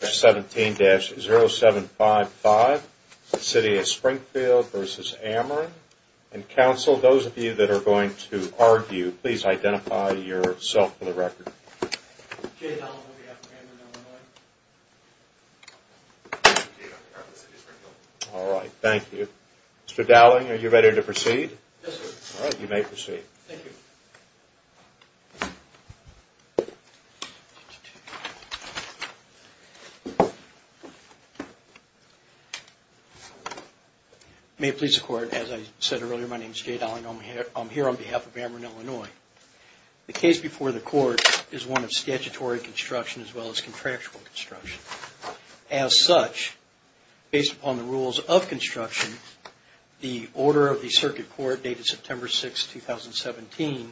17-0755, the city of Springfield v. Ameren. And counsel, those of you that are going to argue, please identify yourself for the record. Jay Dowling on behalf of Ameren Illinois. Jay Dowling on behalf of the city of Springfield. All right, thank you. Mr. Dowling, are you ready to proceed? Yes, sir. All right, you may proceed. Thank you. May it please the court, as I said earlier, my name is Jay Dowling. I'm here on behalf of Ameren Illinois. The case before the court is one of statutory construction as well as contractual construction. As such, based upon the rules of construction, the order of the circuit court dated September 6, 2017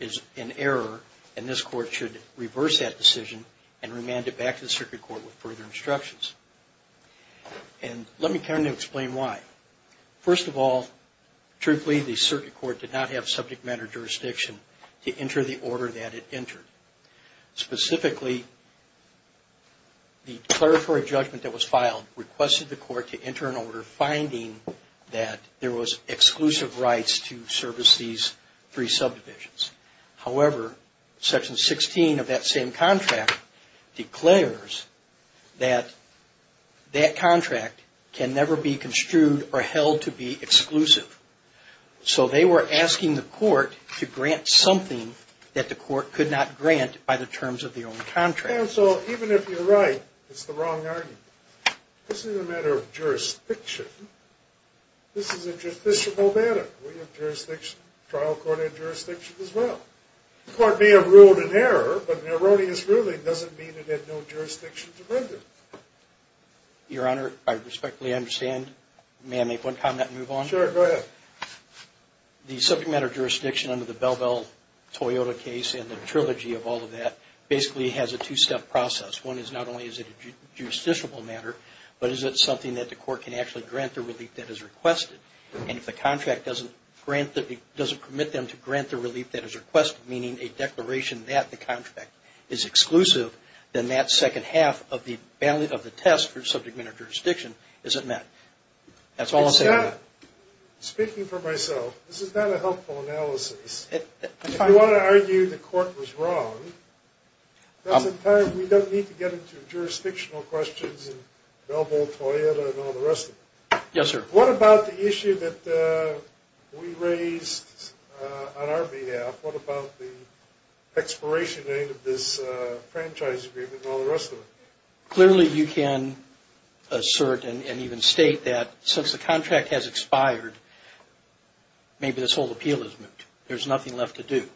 is in error, and this court should reverse that decision and remand it back to the circuit court with further instructions. And let me kind of explain why. First of all, truthfully, the circuit court did not have subject matter jurisdiction to enter the order that it entered. Specifically, the declaratory judgment that was filed requested the court to enter an order finding that there was exclusive rights to service these three subdivisions. However, section 16 of that same contract declares that that contract can never be construed or held to be exclusive. So they were asking the court to grant something that the court could not grant by the terms of the old contract. And so even if you're right, it's the wrong argument. This is a matter of jurisdiction. This is a jurisdictional matter. We have jurisdiction, trial court had jurisdiction as well. The court may have ruled in error, but an erroneous ruling doesn't mean it had no jurisdiction to render. Your Honor, I respectfully understand. May I make one comment and move on? Sure, go ahead. The subject matter jurisdiction under the Bell Bell Toyota case and the trilogy of all of that basically has a two-step process. One is not only is it a justiciable matter, but is it something that the court can actually grant the relief that is requested. And if the contract doesn't permit them to grant the relief that is requested, meaning a declaration that the contract is exclusive, then that second half of the test for subject matter jurisdiction isn't met. That's all I'll say on that. Speaking for myself, this is not a helpful analysis. If you want to argue the court was wrong, we don't need to get into jurisdictional questions and Bell Bell Toyota and all the rest of it. Yes, sir. What about the issue that we raised on our behalf? What about the expiration date of this franchise agreement and all the rest of it? Clearly, you can assert and even state that since the contract has expired, maybe this whole appeal is moot. There's nothing left to do.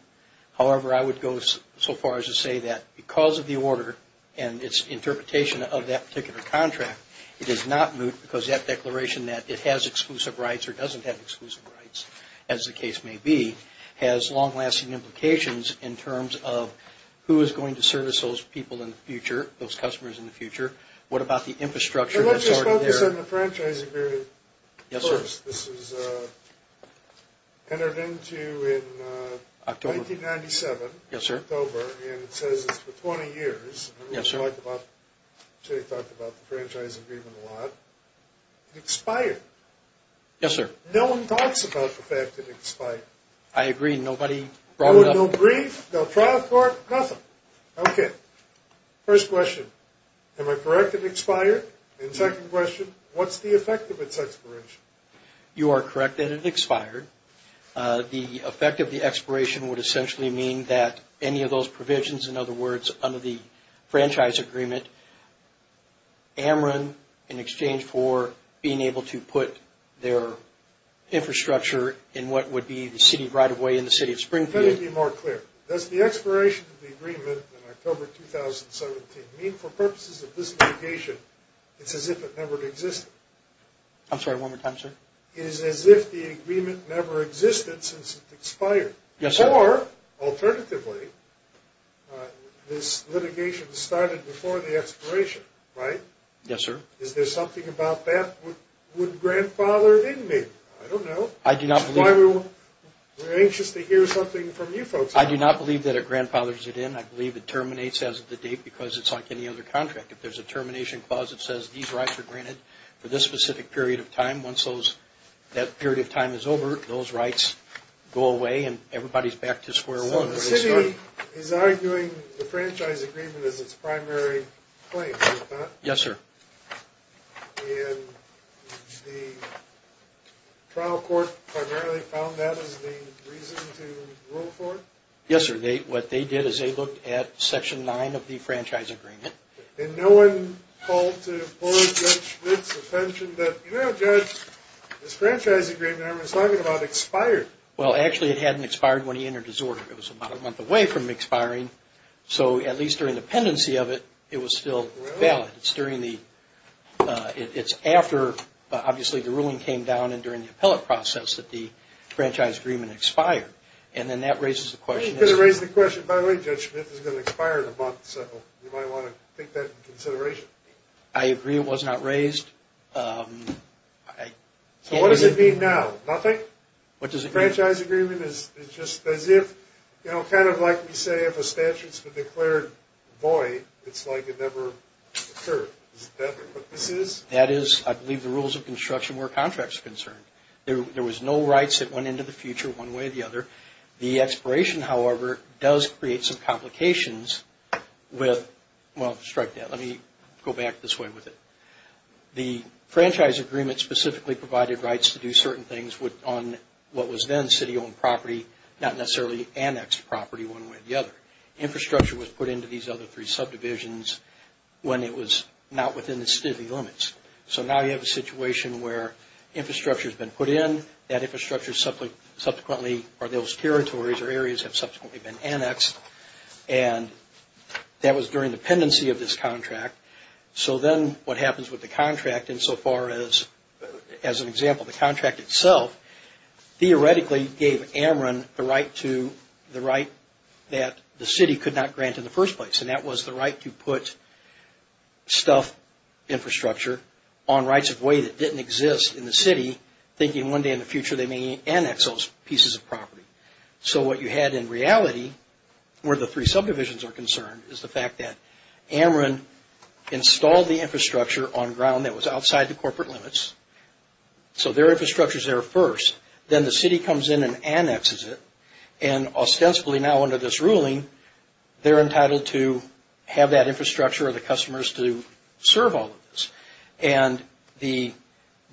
However, I would go so far as to say that because of the order and its interpretation of that particular contract, it is not moot because that declaration that it has exclusive rights or doesn't have exclusive rights, as the case may be, has long-lasting implications in terms of who is going to service those people in the future, those customers in the future. What about the infrastructure that's already there? Let's just focus on the franchise agreement first. Yes, sir. This was entered into in 1997. Yes, sir. October, and it says it's for 20 years. Yes, sir. Jay talked about the franchise agreement a lot. It expired. Yes, sir. No one talks about the fact that it expired. I agree. Nobody brought it up. No brief, no trial court, nothing. Okay. First question, am I correct that it expired? And second question, what's the effect of its expiration? You are correct that it expired. The effect of the expiration would essentially mean that any of those provisions, in other words, under the franchise agreement, Ameren, in exchange for being able to put their infrastructure in what would be the city right-of-way in the city of Springfield. Let me be more clear. Does the expiration of the agreement in October 2017 mean for purposes of this litigation it's as if it never existed? I'm sorry, one more time, sir. It is as if the agreement never existed since it expired. Yes, sir. Or, alternatively, this litigation started before the expiration, right? Yes, sir. Is there something about that would grandfather in me? I don't know. I do not believe. We're anxious to hear something from you folks. I do not believe that it grandfathers it in. I believe it terminates as of the date because it's like any other contract. If there's a termination clause that says these rights are granted for this specific period of time, once that period of time is over, those rights go away and everybody's back to square one. So the city is arguing the franchise agreement is its primary claim, is it not? Yes, sir. And the trial court primarily found that as the reason to rule for it? Yes, sir. What they did is they looked at Section 9 of the franchise agreement. And no one called to employ Judge Schmidt's attention that, you know, Judge, this franchise agreement I was talking about expired. Well, actually, it hadn't expired when he entered his order. It was about a month away from expiring. So at least during the pendency of it, it was still valid. It's after, obviously, the ruling came down and during the appellate process that the franchise agreement expired. And then that raises the question. By the way, Judge Schmidt is going to expire in a month, so you might want to take that into consideration. I agree it was not raised. So what does it mean now? Nothing? What does it mean? The franchise agreement is just as if, you know, kind of like we say if a statute's been declared void, it's like it never occurred. Is that what this is? That is, I believe, the rules of construction where a contract's concerned. There was no rights that went into the future one way or the other. The expiration, however, does create some complications with, well, strike that. Let me go back this way with it. The franchise agreement specifically provided rights to do certain things on what was then city-owned property, not necessarily annexed property one way or the other. Infrastructure was put into these other three subdivisions when it was not within the city limits. So now you have a situation where infrastructure's been put in. That infrastructure subsequently or those territories or areas have subsequently been annexed, and that was during the pendency of this contract. So then what happens with the contract insofar as, as an example, the contract itself, theoretically gave Ameren the right that the city could not grant in the first place, and that was the right to put stuff, infrastructure, on rights of way that didn't exist in the city, thinking one day in the future they may annex those pieces of property. So what you had in reality, where the three subdivisions are concerned, is the fact that Ameren installed the infrastructure on ground that was outside the corporate limits. So their infrastructure's there first. Then the city comes in and annexes it, and ostensibly now under this ruling, they're entitled to have that infrastructure or the customers to serve all of this. And the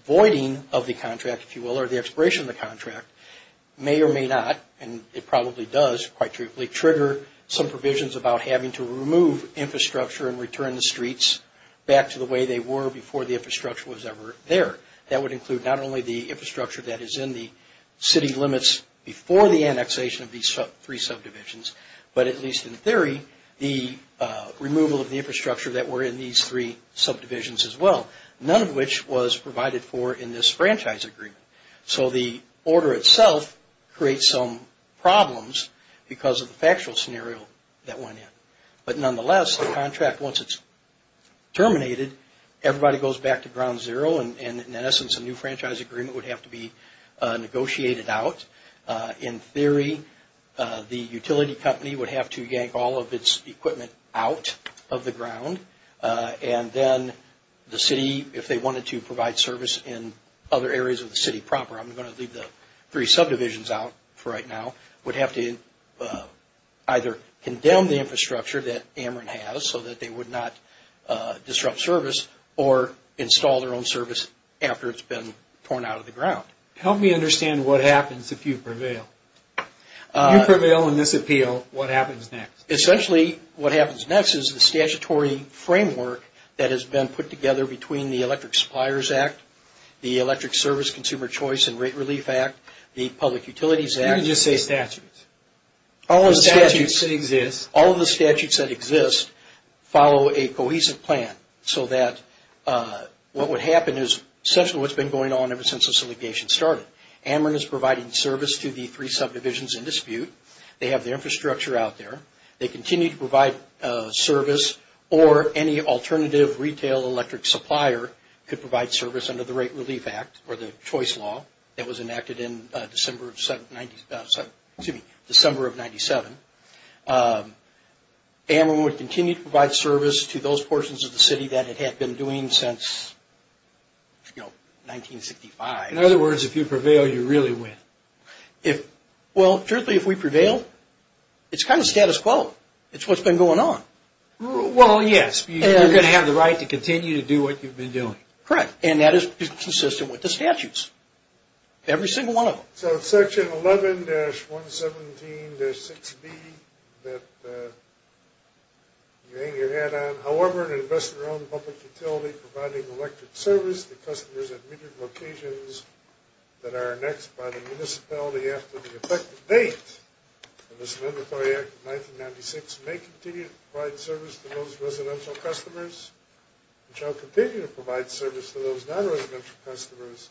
voiding of the contract, if you will, or the expiration of the contract may or may not, and it probably does quite trivially, trigger some provisions about having to remove infrastructure and return the streets back to the way they were before the infrastructure was ever there. That would include not only the infrastructure that is in the city limits before the annexation of these three subdivisions, but at least in theory, the removal of the infrastructure that were in these three subdivisions as well, none of which was provided for in this franchise agreement. So the order itself creates some problems because of the factual scenario that went in. But nonetheless, the contract, once it's terminated, everybody goes back to ground zero, and in essence a new franchise agreement would have to be negotiated out. In theory, the utility company would have to yank all of its equipment out of the ground, and then the city, if they wanted to provide service in other areas of the city proper, I'm going to leave the three subdivisions out for right now, would have to either condemn the infrastructure that Ameren has so that they would not disrupt service or install their own service after it's been torn out of the ground. Help me understand what happens if you prevail. If you prevail in this appeal, what happens next? Essentially, what happens next is the statutory framework that has been put together between the Electric Suppliers Act, the Electric Service Consumer Choice and Rate Relief Act, the Public Utilities Act. You can just say statutes. All of the statutes that exist follow a cohesive plan so that what would happen is essentially what's been going on ever since this litigation started. Ameren is providing service to the three subdivisions in dispute. They have the infrastructure out there. They continue to provide service, or any alternative retail electric supplier could provide service under the Rate Relief Act or the Choice Law that was enacted in December of 97. In other words, if you prevail, you really win. Well, truthfully, if we prevail, it's kind of status quo. It's what's been going on. Well, yes. You're going to have the right to continue to do what you've been doing. Correct, and that is consistent with the statutes, every single one of them. So it's Section 11-117-6B that you hang your hat on. However, an investor owned public utility providing electric service to customers at major locations that are annexed by the municipality after the effective date of this Mandatory Act of 1996 may continue to provide service to those residential customers and shall continue to provide service to those non-residential customers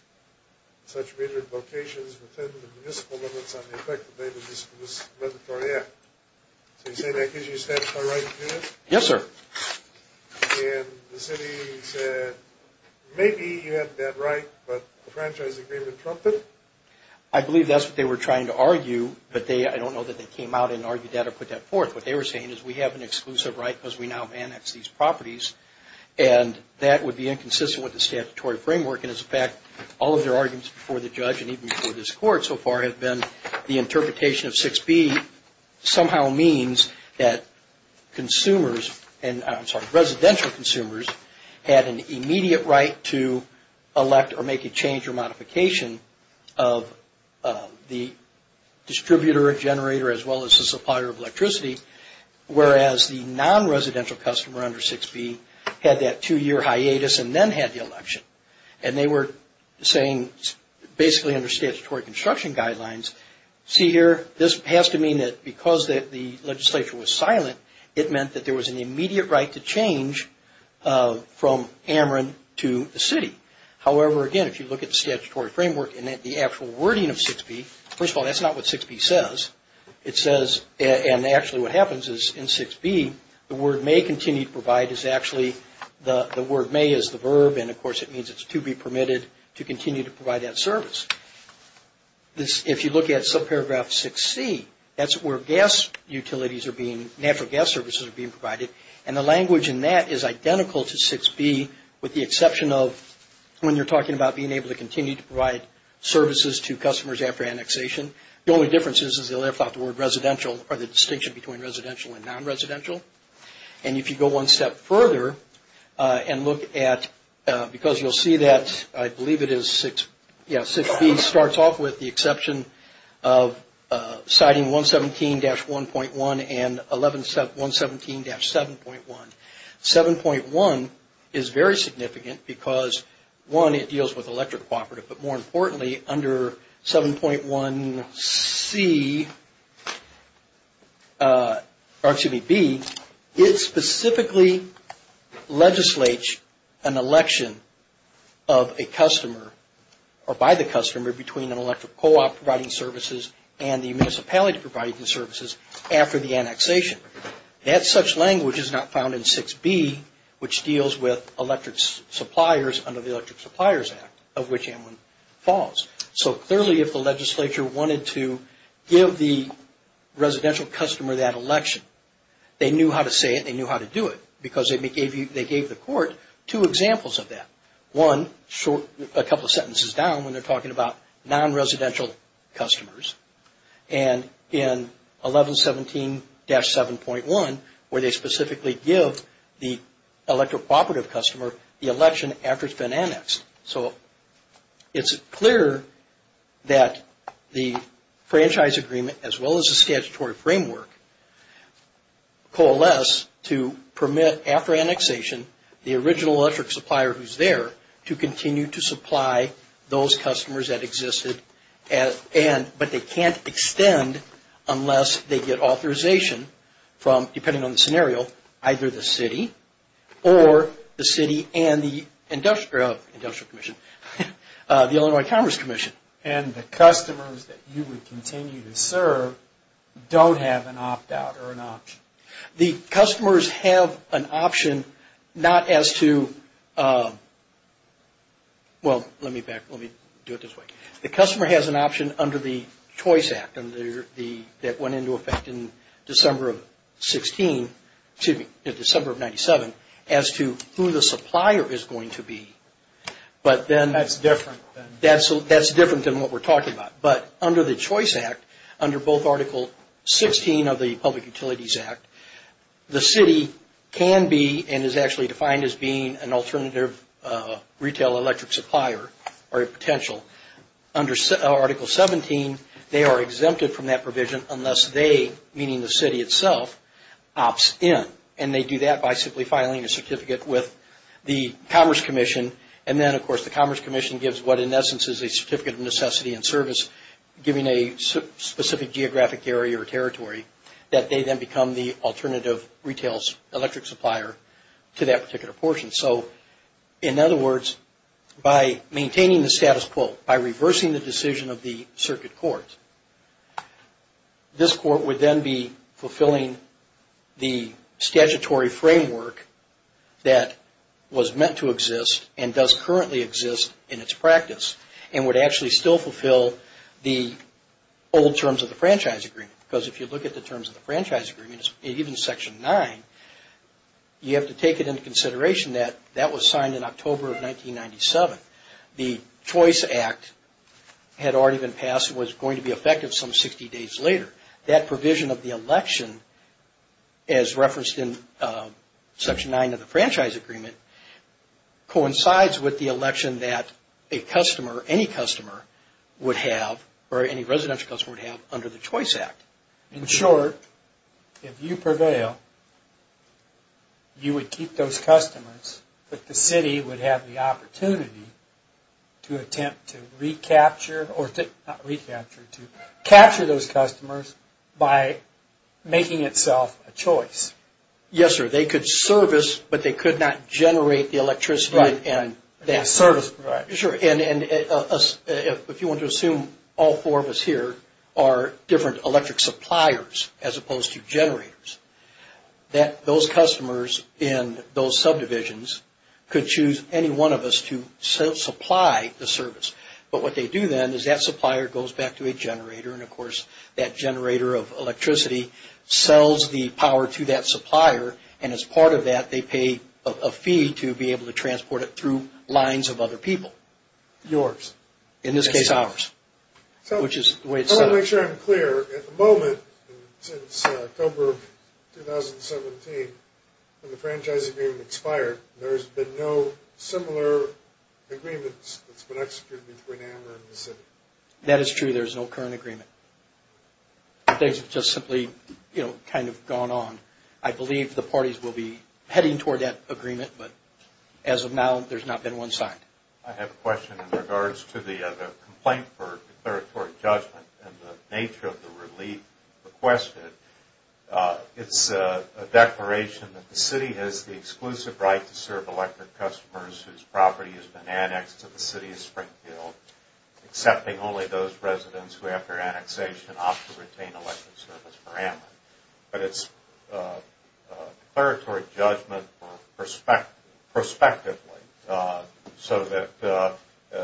at such major locations within the municipal limits on the effective date of this Mandatory Act. So you say that gives you a statutory right to do this? Yes, sir. And the city said maybe you have that right, but the franchise agreement trumped it? I believe that's what they were trying to argue, but I don't know that they came out and argued that or put that forth. What they were saying is we have an exclusive right because we now have annexed these properties, and that would be inconsistent with the statutory framework. And as a fact, all of their arguments before the judge and even before this Court so far have been the interpretation of 6B somehow means that residential consumers had an immediate right to elect or make a change or modification of the distributor, generator, as well as the supplier of electricity, whereas the non-residential customer under 6B had that two-year hiatus and then had the election. And they were saying basically under statutory construction guidelines, see here, this has to mean that because the legislature was silent, it meant that there was an immediate right to change from Ameren to the city. However, again, if you look at the statutory framework and at the actual wording of 6B, first of all, that's not what 6B says. It says, and actually what happens is in 6B, the word may continue to provide, the word may is the verb, and of course it means it's to be permitted to continue to provide that service. If you look at subparagraph 6C, that's where natural gas services are being provided, and the language in that is identical to 6B with the exception of when you're talking about being able to continue to provide services to customers after annexation. The only difference is they left out the word residential or the distinction between residential and non-residential. And if you go one step further and look at, because you'll see that I believe it is 6B starts off with the exception of citing 117-1.1 and 117-7.1. 7.1 is very significant because, one, it deals with electric cooperative, but more importantly, under 7.1C, or excuse me, B, it specifically legislates an election of a customer or by the customer between an electric co-op providing services and the municipality providing services after the annexation. That such language is not found in 6B, which deals with electric suppliers under the Electric Suppliers Act, of which anyone falls. So clearly, if the legislature wanted to give the residential customer that election, they knew how to say it and they knew how to do it because they gave the court two examples of that. One, a couple of sentences down, when they're talking about non-residential customers, and in 1117-7.1, where they specifically give the electric cooperative customer the election after it's been annexed. So it's clear that the franchise agreement, as well as the statutory framework, coalesce to permit, after annexation, the original electric supplier who's there to continue to supply those customers that existed, but they can't extend unless they get authorization from, depending on the scenario, either the city or the city and the Industrial Commission, the Illinois Commerce Commission. And the customers that you would continue to serve don't have an opt-out or an option. The customers have an option not as to, well, let me do it this way. The customer has an option under the Choice Act that went into effect in December of 16, excuse me, December of 97, as to who the supplier is going to be. That's different. That's different than what we're talking about. But under the Choice Act, under both Article 16 of the Public Utilities Act, the city can be, and is actually defined as being an alternative retail electric supplier or a potential. Under Article 17, they are exempted from that provision unless they, meaning the city itself, opts in. And they do that by simply filing a certificate with the Commerce Commission. And then, of course, the Commerce Commission gives what, in essence, is a certificate of necessity and service, giving a specific geographic area or territory that they then become the alternative retails electric supplier to that particular portion. So, in other words, by maintaining the status quo, by reversing the decision of the circuit court, this court would then be fulfilling the statutory framework that was meant to exist and does currently exist in its practice and would actually still fulfill the old terms of the Franchise Agreement. Because if you look at the terms of the Franchise Agreement, even Section 9, you have to take it into consideration that that was signed in October of 1997. The Choice Act had already been passed and was going to be effective some 60 days later. That provision of the election, as referenced in Section 9 of the Franchise Agreement, coincides with the election that a customer, any customer, would have or any residential customer would have under the Choice Act. In short, if you prevail, you would keep those customers, but the city would have the opportunity to attempt to recapture, or not recapture, to capture those customers by making itself a choice. Yes, sir. They could service, but they could not generate the electricity. Right. They could service. Right. Sure. If you want to assume all four of us here are different electric suppliers as opposed to generators, that those customers in those subdivisions could choose any one of us to supply the service. But what they do then is that supplier goes back to a generator, and, of course, that generator of electricity sells the power to that supplier, and as part of that, they pay a fee to be able to transport it through lines of other people. Yours. In this case, ours, which is the way it's set up. I want to make sure I'm clear. At the moment, since October of 2017, when the franchise agreement expired, there's been no similar agreements that's been executed between AMRA and the city. That is true. There's no current agreement. Things have just simply, you know, kind of gone on. I believe the parties will be heading toward that agreement, but as of now, there's not been one signed. I have a question in regards to the complaint for declaratory judgment and the nature of the relief requested. It's a declaration that the city has the exclusive right to serve electric customers whose property has been annexed to the city of Springfield, accepting only those residents who, after annexation, opt to retain electric service for AMRA. But it's declaratory judgment prospectively, so that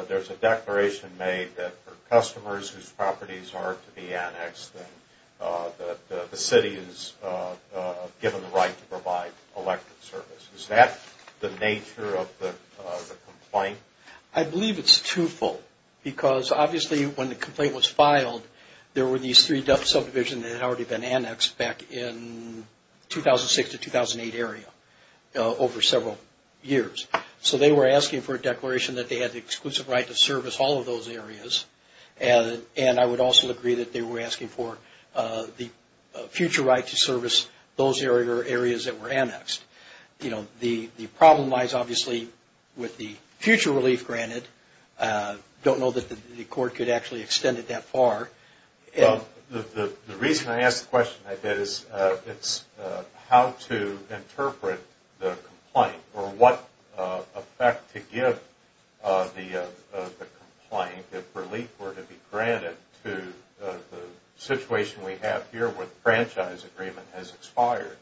there's a declaration made that for customers whose properties are to be annexed, that the city is given the right to provide electric service. Is that the nature of the complaint? I believe it's twofold, because obviously when the complaint was filed, there were these three subdivisions that had already been annexed back in 2006 to 2008 area over several years. So they were asking for a declaration that they had the exclusive right to service all of those areas, and I would also agree that they were asking for the future right to service those areas that were annexed. You know, the problem lies obviously with the future relief granted. I don't know that the court could actually extend it that far. The reason I asked the question like that is how to interpret the complaint, or what effect to give the complaint if relief were to be granted to the situation we have here where the franchise agreement has expired.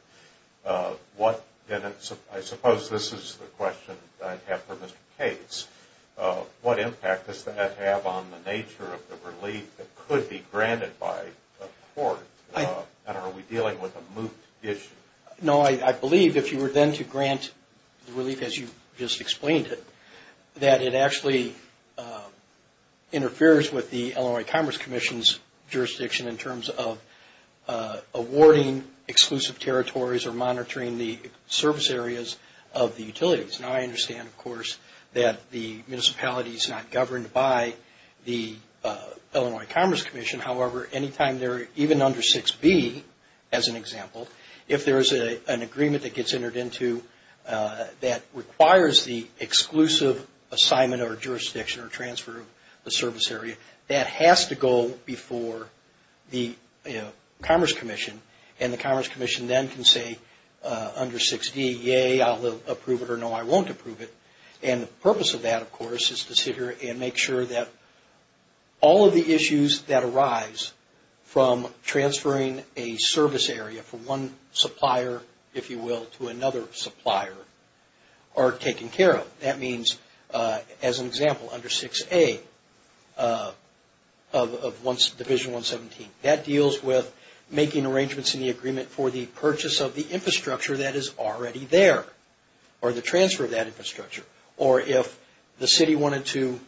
I suppose this is the question I'd have for Mr. Cates. What impact does that have on the nature of the relief that could be granted by the court? And are we dealing with a moot issue? No, I believe if you were then to grant the relief as you just explained it, that it actually interferes with the Illinois Commerce Commission's jurisdiction in terms of awarding exclusive territory or monitoring the service areas of the utilities. Now, I understand, of course, that the municipality is not governed by the Illinois Commerce Commission. However, anytime they're even under 6B, as an example, if there is an agreement that gets entered into that requires the exclusive assignment or jurisdiction or transfer of the service area, that has to go before the Commerce Commission, and the Commerce Commission then can say under 6D, yay, I'll approve it or no, I won't approve it. And the purpose of that, of course, is to sit here and make sure that all of the issues that arise from transferring a service area from one supplier, if you will, to another supplier are taken care of. That means, as an example, under 6A of Division 117. That deals with making arrangements in the agreement for the purchase of the infrastructure that is already there or the transfer of that infrastructure. Or if the city wanted to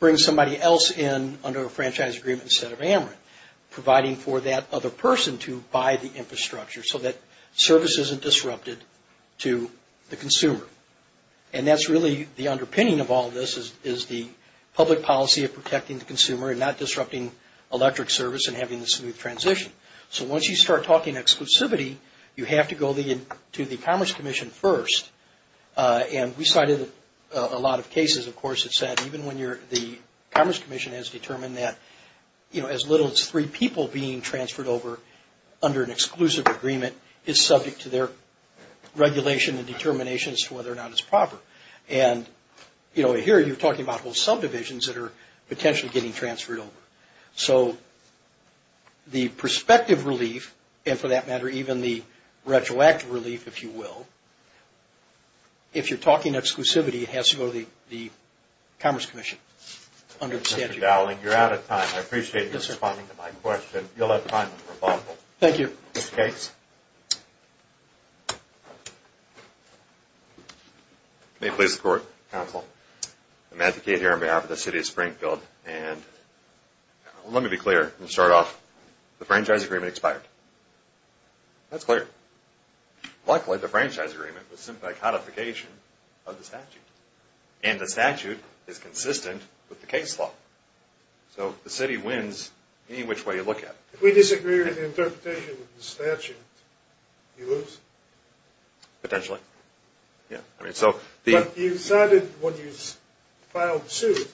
bring somebody else in under a franchise agreement instead of Amerit, providing for that other person to buy the infrastructure so that service isn't disrupted to the consumer. And that's really the underpinning of all this is the public policy of protecting the consumer and not disrupting electric service and having a smooth transition. So once you start talking exclusivity, you have to go to the Commerce Commission first. And we cited a lot of cases, of course, that said even when the Commerce Commission has determined that as little as three people being transferred over under an exclusive agreement is subject to their regulation and determination as to whether or not it's proper. And here you're talking about whole subdivisions that are potentially getting transferred over. So the prospective relief, and for that matter even the retroactive relief, if you will, if you're talking exclusivity, it has to go to the Commerce Commission under the statute. Mr. Dowling, you're out of time. I appreciate you responding to my question. You'll have time for a couple. Thank you. May it please the Court, Counsel, I'm Matt Decade here on behalf of the City of Springfield. And let me be clear and start off, the franchise agreement expired. That's clear. Luckily the franchise agreement was simply a codification of the statute. And the statute is consistent with the case law. So the city wins any which way you look at it. If we disagree with the interpretation of the statute, you lose. Potentially. But you decided when you filed suit,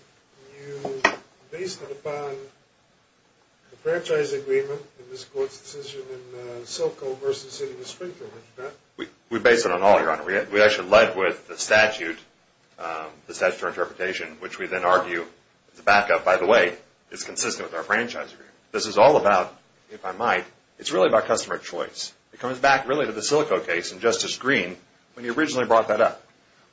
you based it upon the franchise agreement and this Court's decision in Silco versus City of Springfield. We based it on all, Your Honor. We actually led with the statute, the statute of interpretation, which we then argue is a backup, by the way. It's consistent with our franchise agreement. This is all about, if I might, it's really about customer choice. It comes back really to the Silco case in Justice Green when he originally brought that up.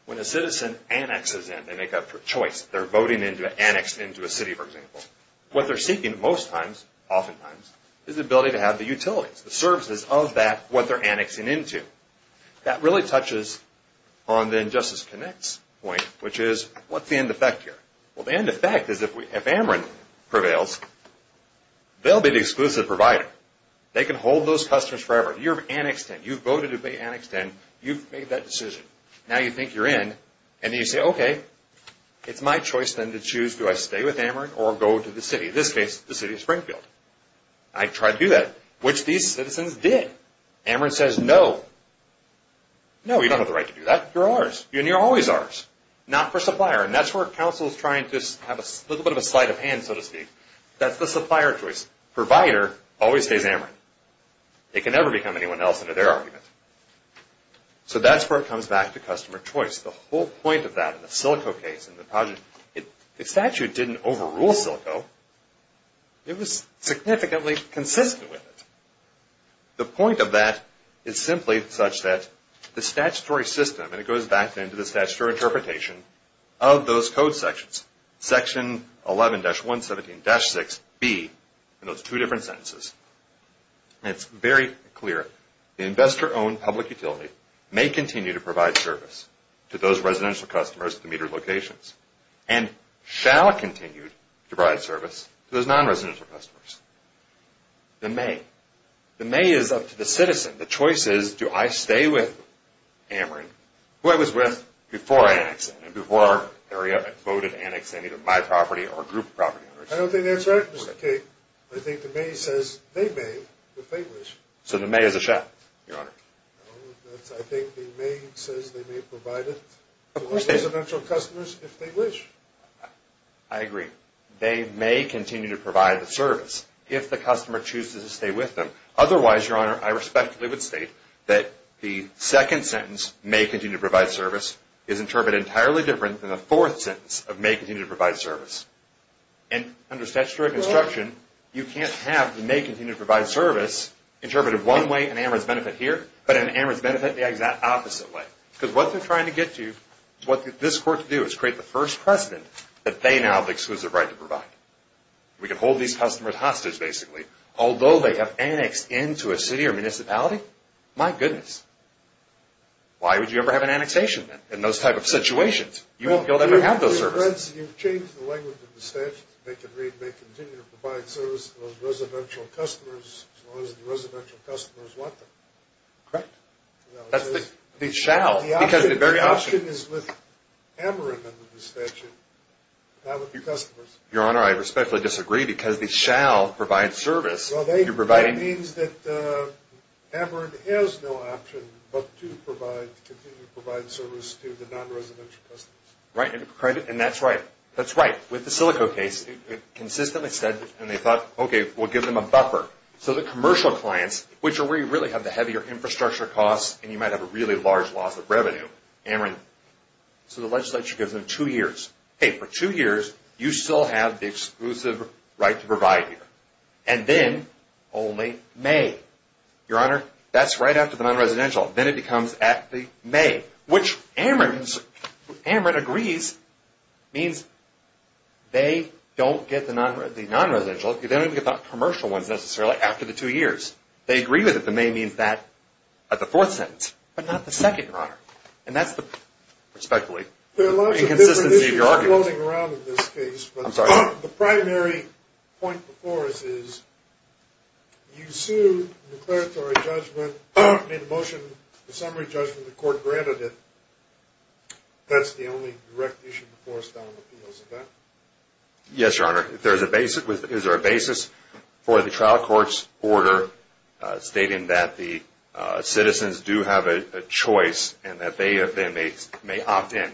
When a citizen annexes in, they make up for choice. They're voting to annex into a city, for example. What they're seeking most times, oftentimes, is the ability to have the utilities, the services of that what they're annexing into. That really touches on the Justice Connect's point, which is what's the end effect here? Well, the end effect is if Ameren prevails, they'll be the exclusive provider. They can hold those customers forever. You've annexed in. You've voted to be annexed in. You've made that decision. Now you think you're in, and you say, okay, it's my choice then to choose. Do I stay with Ameren or go to the city? In this case, the City of Springfield. I tried to do that, which these citizens did. Ameren says, no. No, you don't have the right to do that. You're ours. And you're always ours, not for supplier. And that's where counsel is trying to have a little bit of a sleight of hand, so to speak. That's the supplier choice. Provider always stays Ameren. It can never become anyone else under their argument. So that's where it comes back to customer choice. The whole point of that in the Silico case, in the project, the statute didn't overrule Silico. It was significantly consistent with it. The point of that is simply such that the statutory system, and it goes back then to the statutory interpretation of those code sections, section 11-117-6b, in those two different sentences, and it's very clear, the investor-owned public utility may continue to provide service to those residential customers at the metered locations and shall continue to provide service to those non-residential customers. The may. The may is up to the citizen. The choice is, do I stay with Ameren, who I was with before I annexed it, and before I voted to annex any of my property or group property? I don't think that's right, Mr. Cade. I think the may says they may if they wish. So the may is a shall, Your Honor. I think the may says they may provide it to residential customers if they wish. I agree. They may continue to provide the service if the customer chooses to stay with them. Otherwise, Your Honor, I respectfully would state that the second sentence, may continue to provide service, is interpreted entirely different than the fourth sentence of may continue to provide service. And under statutory construction, you can't have the may continue to provide service interpreted one way and Ameren's benefit here, but in Ameren's benefit the opposite way. Because what they're trying to get to, what this court can do, is create the first precedent that they now have the exclusive right to provide. We can hold these customers hostage, basically. Although they have annexed into a city or municipality, my goodness. Why would you ever have an annexation in those type of situations? You won't be able to have those services. You've changed the language of the statute to make it read, may continue to provide service to those residential customers as long as the residential customers want them. Correct. That's the shall. The option is with Ameren and the statute, not with the customers. Your Honor, I respectfully disagree because the shall provides service. That means that Ameren has no option but to continue to provide service to the non-residential customers. Right. And that's right. That's right. With the Silico case, it consistently said, and they thought, okay, we'll give them a buffer. So the commercial clients, which are where you really have the heavier infrastructure costs and you might have a really large loss of revenue, Ameren. So the legislature gives them two years. Hey, for two years, you still have the exclusive right to provide here. And then only may. Your Honor, that's right after the non-residential. Then it becomes at the may, which Ameren agrees means they don't get the non-residential. They don't even get the commercial ones necessarily after the two years. They agree with it. The may means that at the fourth sentence, but not the second, Your Honor. And that's the respectfully inconsistency of your argument. I'm floating around in this case. I'm sorry. The primary point before us is you sued the declaratory judgment, made a motion, a summary judgment, the court granted it. That's the only direct issue before us on appeals. Yes, Your Honor. There's a basis. Is there a basis for the trial court's order stating that the citizens do have a choice and that they may opt in? In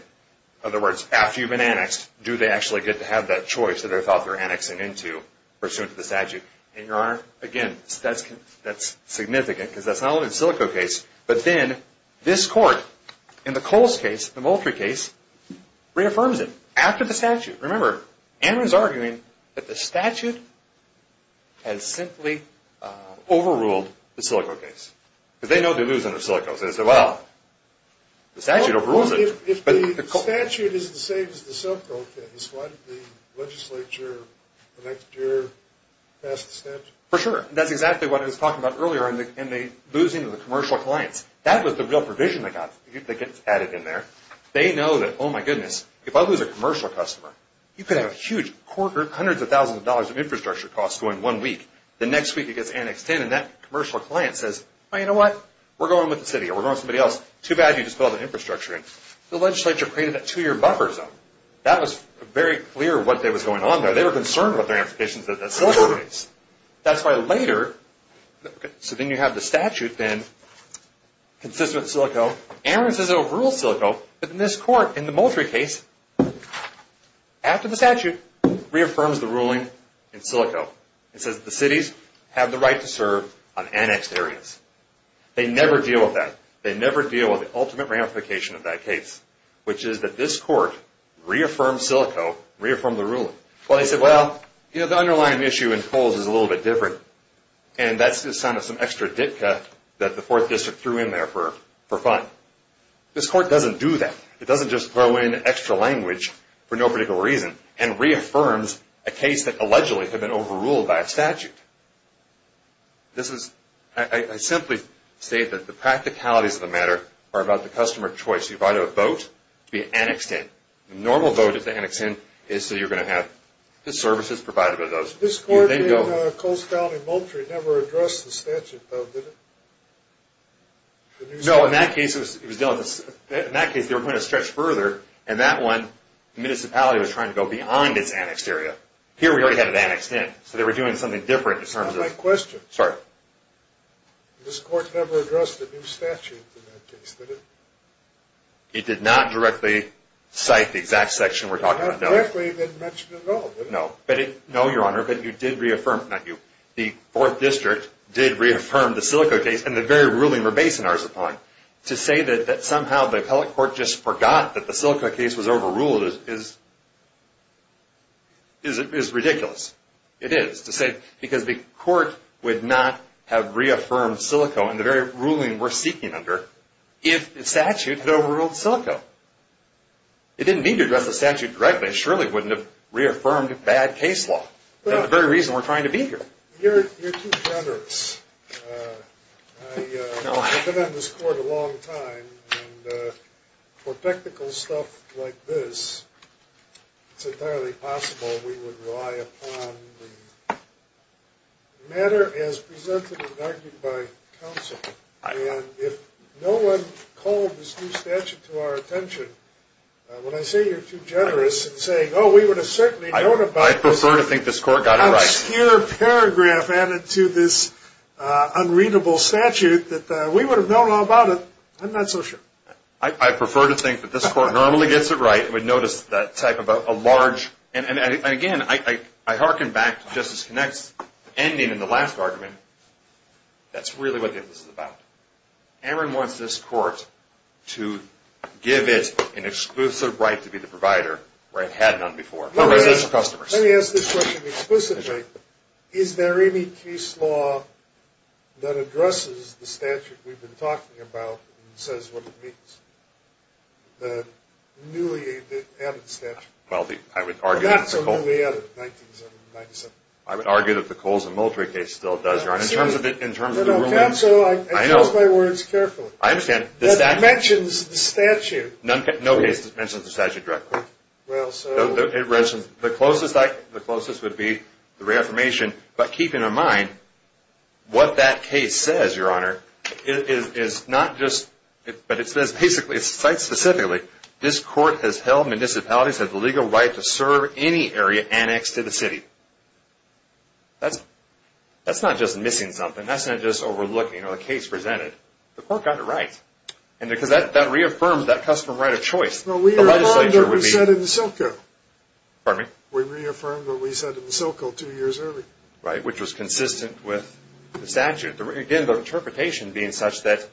other words, after you've been annexed, do they actually get to have that choice that they thought they were annexing into pursuant to the statute? And, Your Honor, again, that's significant because that's not only the Silico case, but then this court, in the Coles case, the Moultrie case, reaffirms it after the statute. Remember, Ameren's arguing that the statute has simply overruled the Silico case because they know they're losing the Silicos. They say, well, the statute overrules it. If the statute is the same as the Silico case, why did the legislature the next year pass the statute? For sure. That's exactly what I was talking about earlier in the losing of the commercial clients. That was the real provision they got that gets added in there. They know that, oh, my goodness, if I lose a commercial customer, you could have hundreds of thousands of dollars of infrastructure costs going one week. The next week it gets annexed in, and that commercial client says, oh, you know what, we're going with the city or we're going with somebody else. Too bad you just built an infrastructure. The legislature created that two-year buffer zone. That was very clear what was going on there. They were concerned about their implications in the Silico case. That's why later, so then you have the statute then consistent with Silico. Ameren says it overrules Silico. But in this court, in the Moultrie case, after the statute, reaffirms the ruling in Silico. It says the cities have the right to serve on annexed areas. They never deal with that. They never deal with the ultimate ramification of that case, which is that this court reaffirmed Silico, reaffirmed the ruling. Well, they said, well, the underlying issue in Coles is a little bit different, and that's the sign of some extra Ditka that the 4th District threw in there for fun. This court doesn't do that. It doesn't just throw in extra language for no particular reason and reaffirms a case that allegedly had been overruled by a statute. This is, I simply state that the practicalities of the matter are about the customer choice. You provided a vote to be annexed in. The normal vote to be annexed in is so you're going to have the services provided by those. This court in Coles County, Moultrie never addressed the statute, though, did it? No, in that case, they were going to stretch further, and that one, the municipality was trying to go beyond its annexed area. Here, we already had it annexed in. So they were doing something different in terms of— That's not my question. Sorry. This court never addressed the new statute in that case, did it? It did not directly cite the exact section we're talking about, no. Not directly, it didn't mention it at all, did it? No. No, Your Honor, but you did reaffirm—not you. The 4th District did reaffirm the Silico case, and the very ruling we're basing ours upon. To say that somehow the appellate court just forgot that the Silico case was overruled is ridiculous. It is, to say—because the court would not have reaffirmed Silico in the very ruling we're seeking under if the statute had overruled Silico. It didn't mean to address the statute directly. It surely wouldn't have reaffirmed bad case law. That's the very reason we're trying to be here. You're too generous. I've been on this court a long time, and for technical stuff like this, it's entirely possible we would rely upon the matter as presented and argued by counsel. And if no one called this new statute to our attention, when I say you're too generous in saying, oh, we would have certainly known about this obscure paragraph added to this unreadable statute, that we would have known all about it, I'm not so sure. I prefer to think that this court normally gets it right and would notice that type of a large— and, again, I hearken back to Justice Kinect's ending in the last argument. That's really what this is about. Aaron wants this court to give it an exclusive right to be the provider where it had none before. Let me ask this question explicitly. Is there any case law that addresses the statute we've been talking about and says what it means, the newly added statute? Well, I would argue— Not so newly added, 1997. I would argue that the Coles and Moultrie case still does, Your Honor. In terms of the ruling— Counsel, I use my words carefully. I understand. It mentions the statute. No case mentions the statute directly. It mentions—the closest would be the reaffirmation, but keep in mind what that case says, Your Honor, is not just— but it says basically, it cites specifically, this court has held municipalities have the legal right to serve any area annexed to the city. That's not just missing something. That's not just overlooking a case presented. The court got it right. And because that reaffirms that custom right of choice. Well, we reaffirmed what we said in the Silco. Pardon me? We reaffirmed what we said in the Silco two years earlier. Right, which was consistent with the statute. Again, the interpretation being such that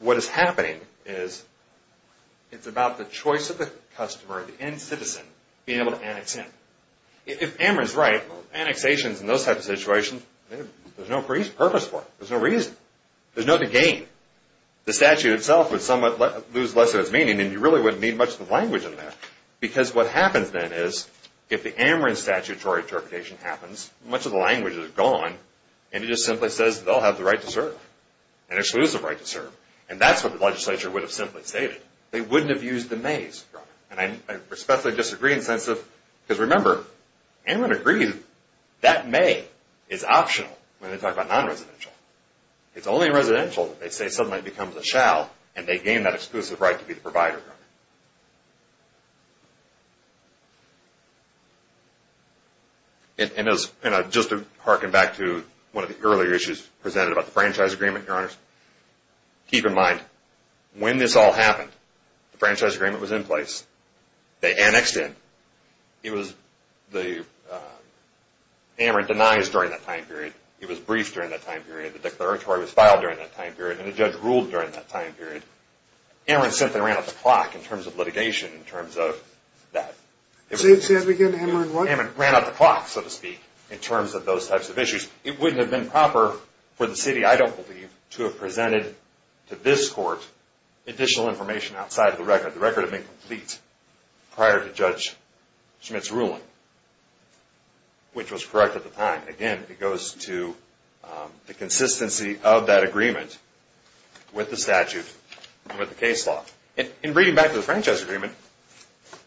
what is happening is it's about the choice of the customer, the end citizen, being able to annex in. If Emmer is right, annexations and those types of situations, there's no purpose for it. There's no reason. There's nothing to gain. The statute itself would somewhat lose less of its meaning, and you really wouldn't need much of the language in there. Because what happens then is if the Emmeren statutory interpretation happens, much of the language is gone, and it just simply says they'll have the right to serve, an exclusive right to serve. And that's what the legislature would have simply stated. They wouldn't have used the mays, Your Honor. And I respectfully disagree in the sense of—because remember, Emmeren agree that may is optional when they talk about non-residential. It's only in residential that they say something that becomes a shall, and they gain that exclusive right to be the provider. And just to harken back to one of the earlier issues presented about the franchise agreement, Your Honors, keep in mind when this all happened, the franchise agreement was in place. They annexed in. The Emmeren denies during that time period. It was briefed during that time period. The declaratory was filed during that time period, and the judge ruled during that time period. Emmeren simply ran up the clock in terms of litigation, in terms of that. Say that again. Emmeren what? Emmeren ran up the clock, so to speak, in terms of those types of issues. It wouldn't have been proper for the city, I don't believe, to have presented to this court additional information outside of the record. The record had been complete prior to Judge Schmidt's ruling, which was correct at the time. Again, it goes to the consistency of that agreement with the statute and with the case law. In reading back to the franchise agreement,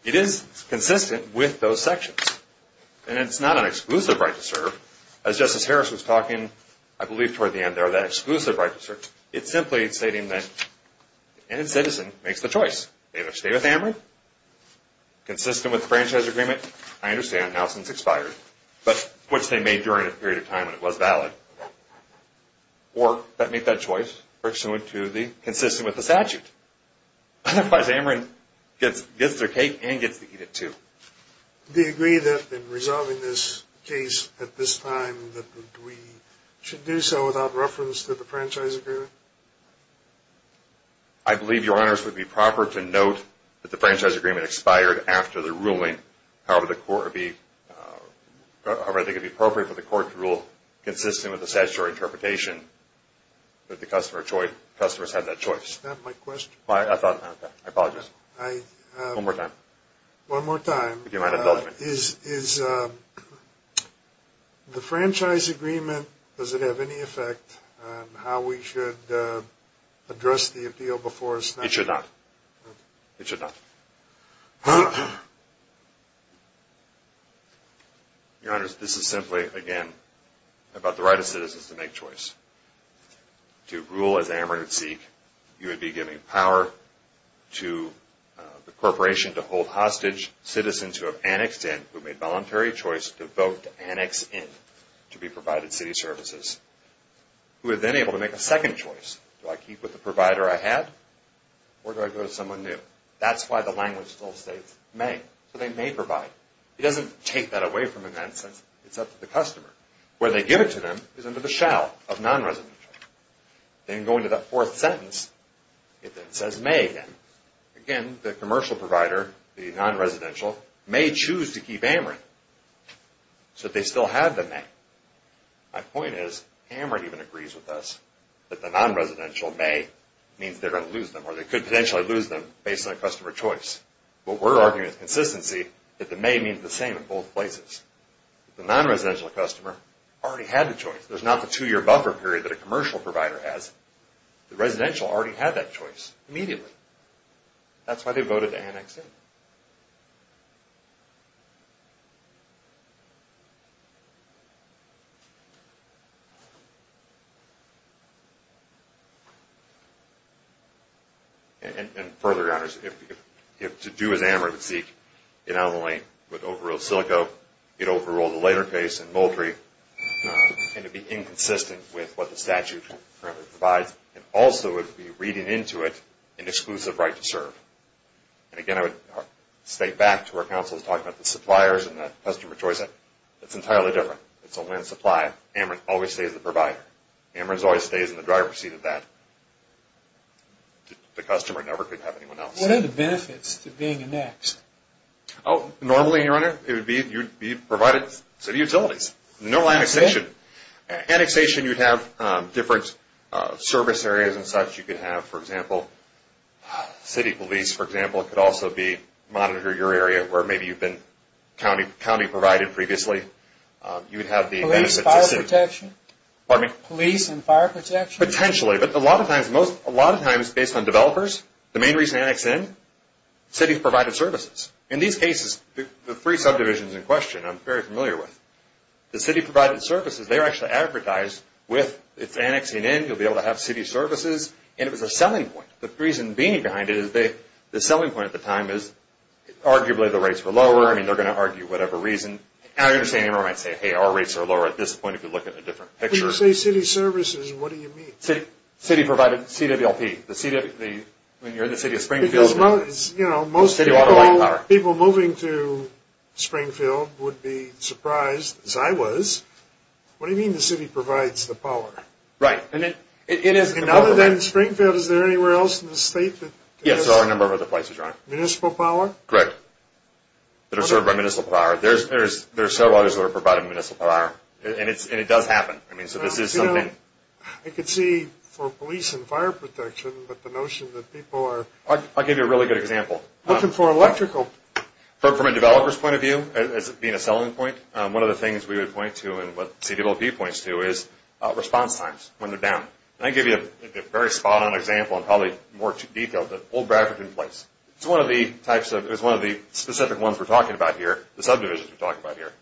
it is consistent with those sections, and it's not an exclusive right to serve. As Justice Harris was talking, I believe, toward the end there, that exclusive right to serve, it's simply stating that any citizen makes the choice. They either stay with Emmeren, consistent with the franchise agreement. I understand how since it's expired, but which they made during a period of time when it was valid. Or they make that choice pursuant to the, consistent with the statute. Otherwise, Emmeren gets their cake and gets to eat it too. Do you agree that in resolving this case at this time, that we should do so without reference to the franchise agreement? I believe, Your Honors, it would be proper to note that the franchise agreement expired after the ruling. However, I think it would be appropriate for the court to rule consistent with the statutory interpretation that the customers had that choice. Is that my question? I apologize. One more time. One more time. If you don't mind indulging me. Is the franchise agreement, does it have any effect on how we should address the appeal before it's not? It should not. It should not. Your Honors, this is simply, again, about the right of citizens to make choice. To rule as Emmeren would seek, you would be giving power to the corporation to hold hostage citizens who have annexed in, who made voluntary choice to vote to annex in, to be provided city services, who are then able to make a second choice. Do I keep with the provider I had? Or do I go to someone new? That's why the language still states, may. So they may provide. It doesn't take that away from them in that sense. It's up to the customer. Where they give it to them is under the shell of non-residential. Then going to that fourth sentence, it then says may again. Again, the commercial provider, the non-residential, may choose to keep Emmeren. So they still have the may. My point is, Emmeren even agrees with us that the non-residential may means they're going to lose them, or they could potentially lose them based on customer choice. What we're arguing is consistency, that the may means the same in both places. The non-residential customer already had the choice. There's not the two-year buffer period that a commercial provider has. The residential already had that choice immediately. That's why they voted to annex in. And further, your honors, if to do as Emmeren would seek, it not only would overrule Silico, it overruled the later case in Moultrie, and it would be inconsistent with what the statute currently provides. It also would be reading into it an exclusive right to serve. And again, I would state back to where counsel was talking about the suppliers and the customer choice. That's entirely different. It's a land supply. Emmeren always stays the provider. Emmeren always stays in the driver's seat of that. The customer never could have anyone else. What are the benefits to being annexed? Normally, your honor, you'd be provided city utilities. No annexation. Annexation, you'd have different service areas and such. You could have, for example, city police, for example, could also monitor your area where maybe you've been county provided previously. You would have the benefit to city. Police and fire protection? Potentially, but a lot of times, based on developers, the main reason to annex in, cities provided services. In these cases, the three subdivisions in question, I'm very familiar with. The city provided services, they're actually advertised with, it's annexing in, you'll be able to have city services, and it was a selling point. The reason being behind it is the selling point at the time is arguably the rates were lower. I mean, they're going to argue whatever reason. I understand Emmeren might say, hey, our rates are lower at this point, if you look at a different picture. When you say city services, what do you mean? City provided, CWLP, when you're in the city of Springfield, most people moving to Springfield would be surprised, as I was, what do you mean the city provides the power? Right. And other than Springfield, is there anywhere else in the state? Yes, there are a number of other places, right. Municipal power? Correct. They're served by municipal power. There are several others that are provided municipal power, and it does happen. I mean, so this is something. I could see for police and fire protection, but the notion that people are I'll give you a really good example. Looking for electrical. From a developer's point of view, as being a selling point, one of the things we would point to and what CWLP points to is response times, when they're down. And I can give you a very spot-on example and probably more detailed, but the whole graphic in place. It's one of the specific ones we're talking about here, the subdivisions we're talking about here.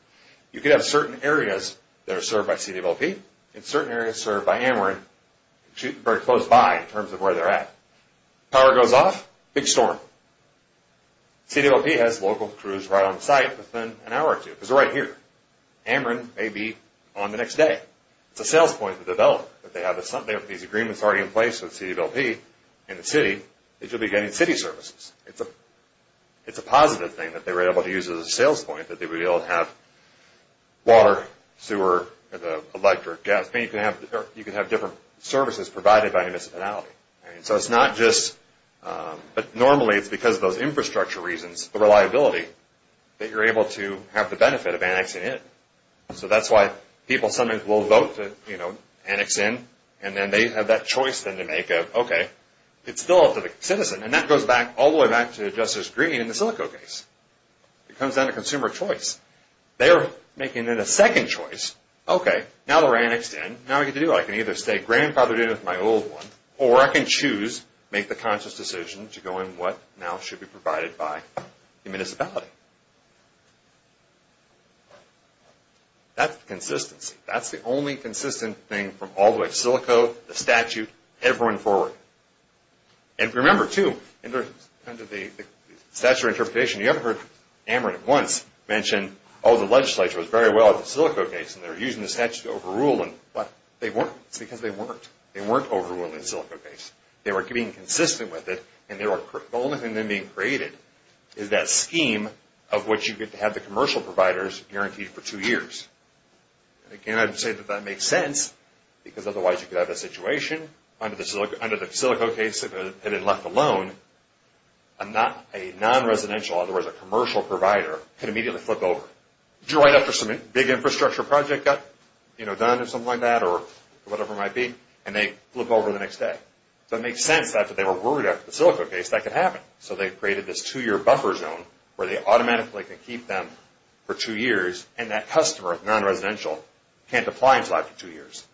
You could have certain areas that are served by CWLP, and certain areas served by Emmeren, very close by in terms of where they're at. Power goes off, big storm. CWLP has local crews right on site within an hour or two, because they're right here. Emmeren may be on the next day. It's a sales point for the developer. If they have these agreements already in place with CWLP in the city, they should be getting city services. It's a positive thing that they were able to use as a sales point, that they would be able to have water, sewer, electric, gas. You could have different services provided by municipality. So it's not just, but normally it's because of those infrastructure reasons, the reliability, that you're able to have the benefit of annexing it. So that's why people sometimes will vote to annex in, and then they have that choice then to make of, okay, it's still up to the citizen. And that goes all the way back to Justice Green in the Silico case. It comes down to consumer choice. They're making it a second choice. Okay, now they're annexed in. Now what do I get to do? I can either stay grandfathered in with my old one, or I can choose, make the conscious decision, to go in what now should be provided by the municipality. That's consistency. That's the only consistent thing from all the way to Silico, the statute, everyone forward. And remember, too, under the statutory interpretation, you ever heard Emmeren once mention, oh, the legislature was very well at the Silico case, and they were using the statute to overrule them, but they weren't. It's because they weren't. They weren't overruling the Silico case. They were being consistent with it, and the only thing then being created is that scheme of what you get to have the commercial providers guaranteed for two years. And again, I would say that that makes sense, because otherwise you could have a situation under the Silico case, and then left alone, a non-residential, in other words, a commercial provider, could immediately flip over. You're right after some big infrastructure project got done or something like that or whatever it might be, and they flip over the next day. So it makes sense that if they were worried after the Silico case, that could happen. So they created this two-year buffer zone where they automatically could keep them for two years, and that customer, non-residential, can't apply until after two years.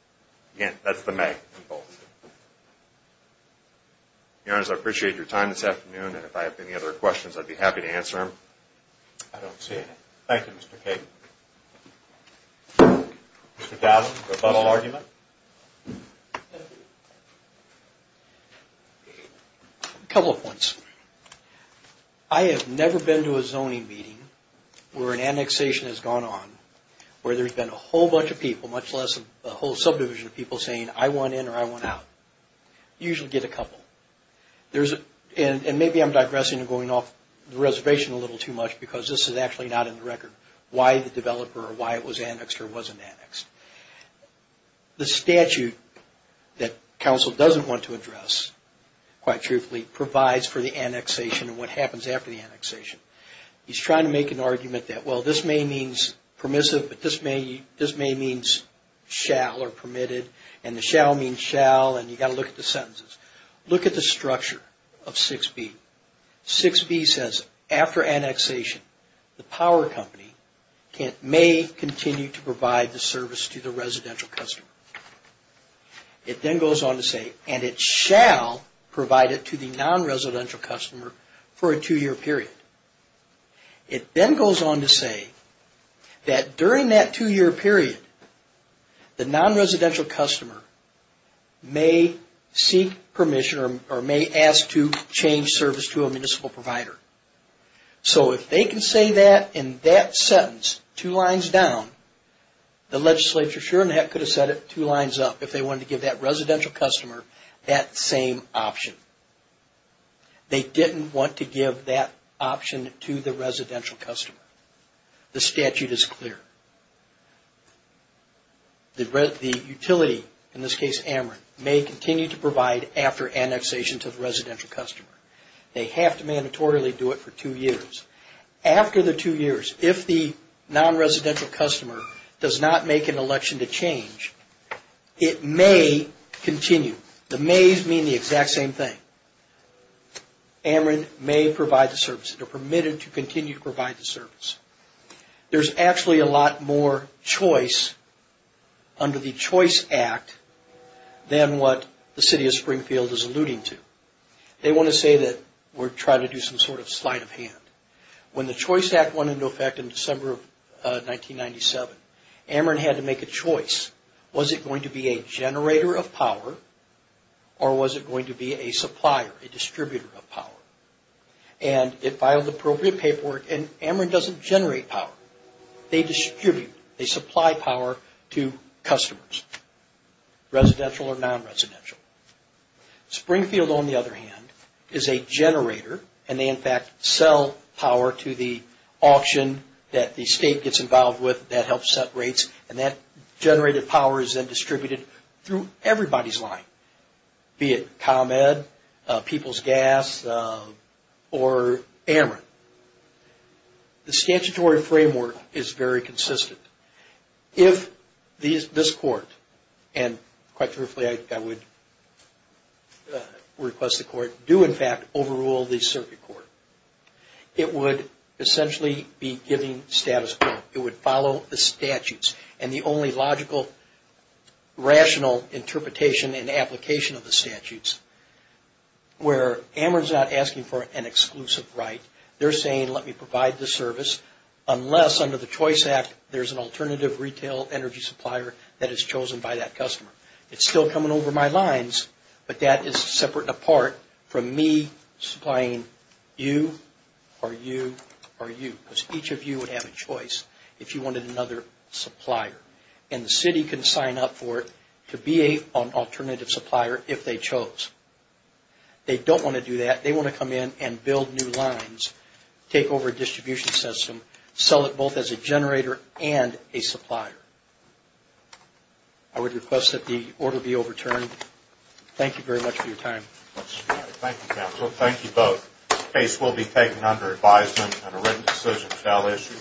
Again, that's the may. Your Honors, I appreciate your time this afternoon, and if I have any other questions, I'd be happy to answer them. I don't see any. Thank you, Mr. Cagan. Mr. Douds, a final argument? A couple of points. I have never been to a zoning meeting where an annexation has gone on, where there's been a whole bunch of people, much less a whole subdivision of people, saying, I want in or I want out. You usually get a couple. And maybe I'm digressing and going off the reservation a little too much because this is actually not in the record why the developer or why it was annexed or wasn't annexed. The statute that counsel doesn't want to address, quite truthfully, provides for the annexation and what happens after the annexation. He's trying to make an argument that, well, this may mean permissive, but this may mean shall or permitted, and the shall means shall, and you've got to look at the sentences. Look at the structure of 6B. 6B says, after annexation, the power company may continue to provide the service to the residential customer. It then goes on to say, and it shall provide it to the non-residential customer for a two-year period. It then goes on to say that during that two-year period, the non-residential customer may seek permission or may ask to change service to a municipal provider. So if they can say that in that sentence two lines down, the legislature sure as heck could have said it two lines up if they wanted to give that residential customer that same option. They didn't want to give that option to the residential customer. The statute is clear. The utility, in this case Ameren, may continue to provide after annexation to the residential customer. They have to mandatorily do it for two years. After the two years, if the non-residential customer does not make an election to change, it may continue. The mays mean the exact same thing. Ameren may provide the service. They're permitted to continue to provide the service. There's actually a lot more choice under the Choice Act than what the City of Springfield is alluding to. They want to say that we're trying to do some sort of sleight of hand. When the Choice Act went into effect in December of 1997, Ameren had to make a choice. Was it going to be a generator of power, and it filed appropriate paperwork, and Ameren doesn't generate power. They distribute. They supply power to customers, residential or non-residential. Springfield, on the other hand, is a generator, and they in fact sell power to the auction that the state gets involved with. That helps set rates, and that generated power is then distributed through everybody's line, be it ComEd, People's Gas, or Ameren. The statutory framework is very consistent. If this court, and quite truthfully I would request the court, do in fact overrule the circuit court, it would essentially be giving status quo. It would follow the statutes, and the only logical rational interpretation and application of the statutes where Ameren is not asking for an exclusive right. They're saying, let me provide the service, unless under the Choice Act there's an alternative retail energy supplier that is chosen by that customer. It's still coming over my lines, but that is separate and apart from me supplying you or you or you, because each of you would have a choice if you wanted another supplier. And the city can sign up for it to be an alternative supplier if they chose. They don't want to do that. They want to come in and build new lines, take over a distribution system, sell it both as a generator and a supplier. I would request that the order be overturned. Thank you very much for your time. Thank you, counsel. Thank you both. The case will be taken under advisement on a written decision for that issue.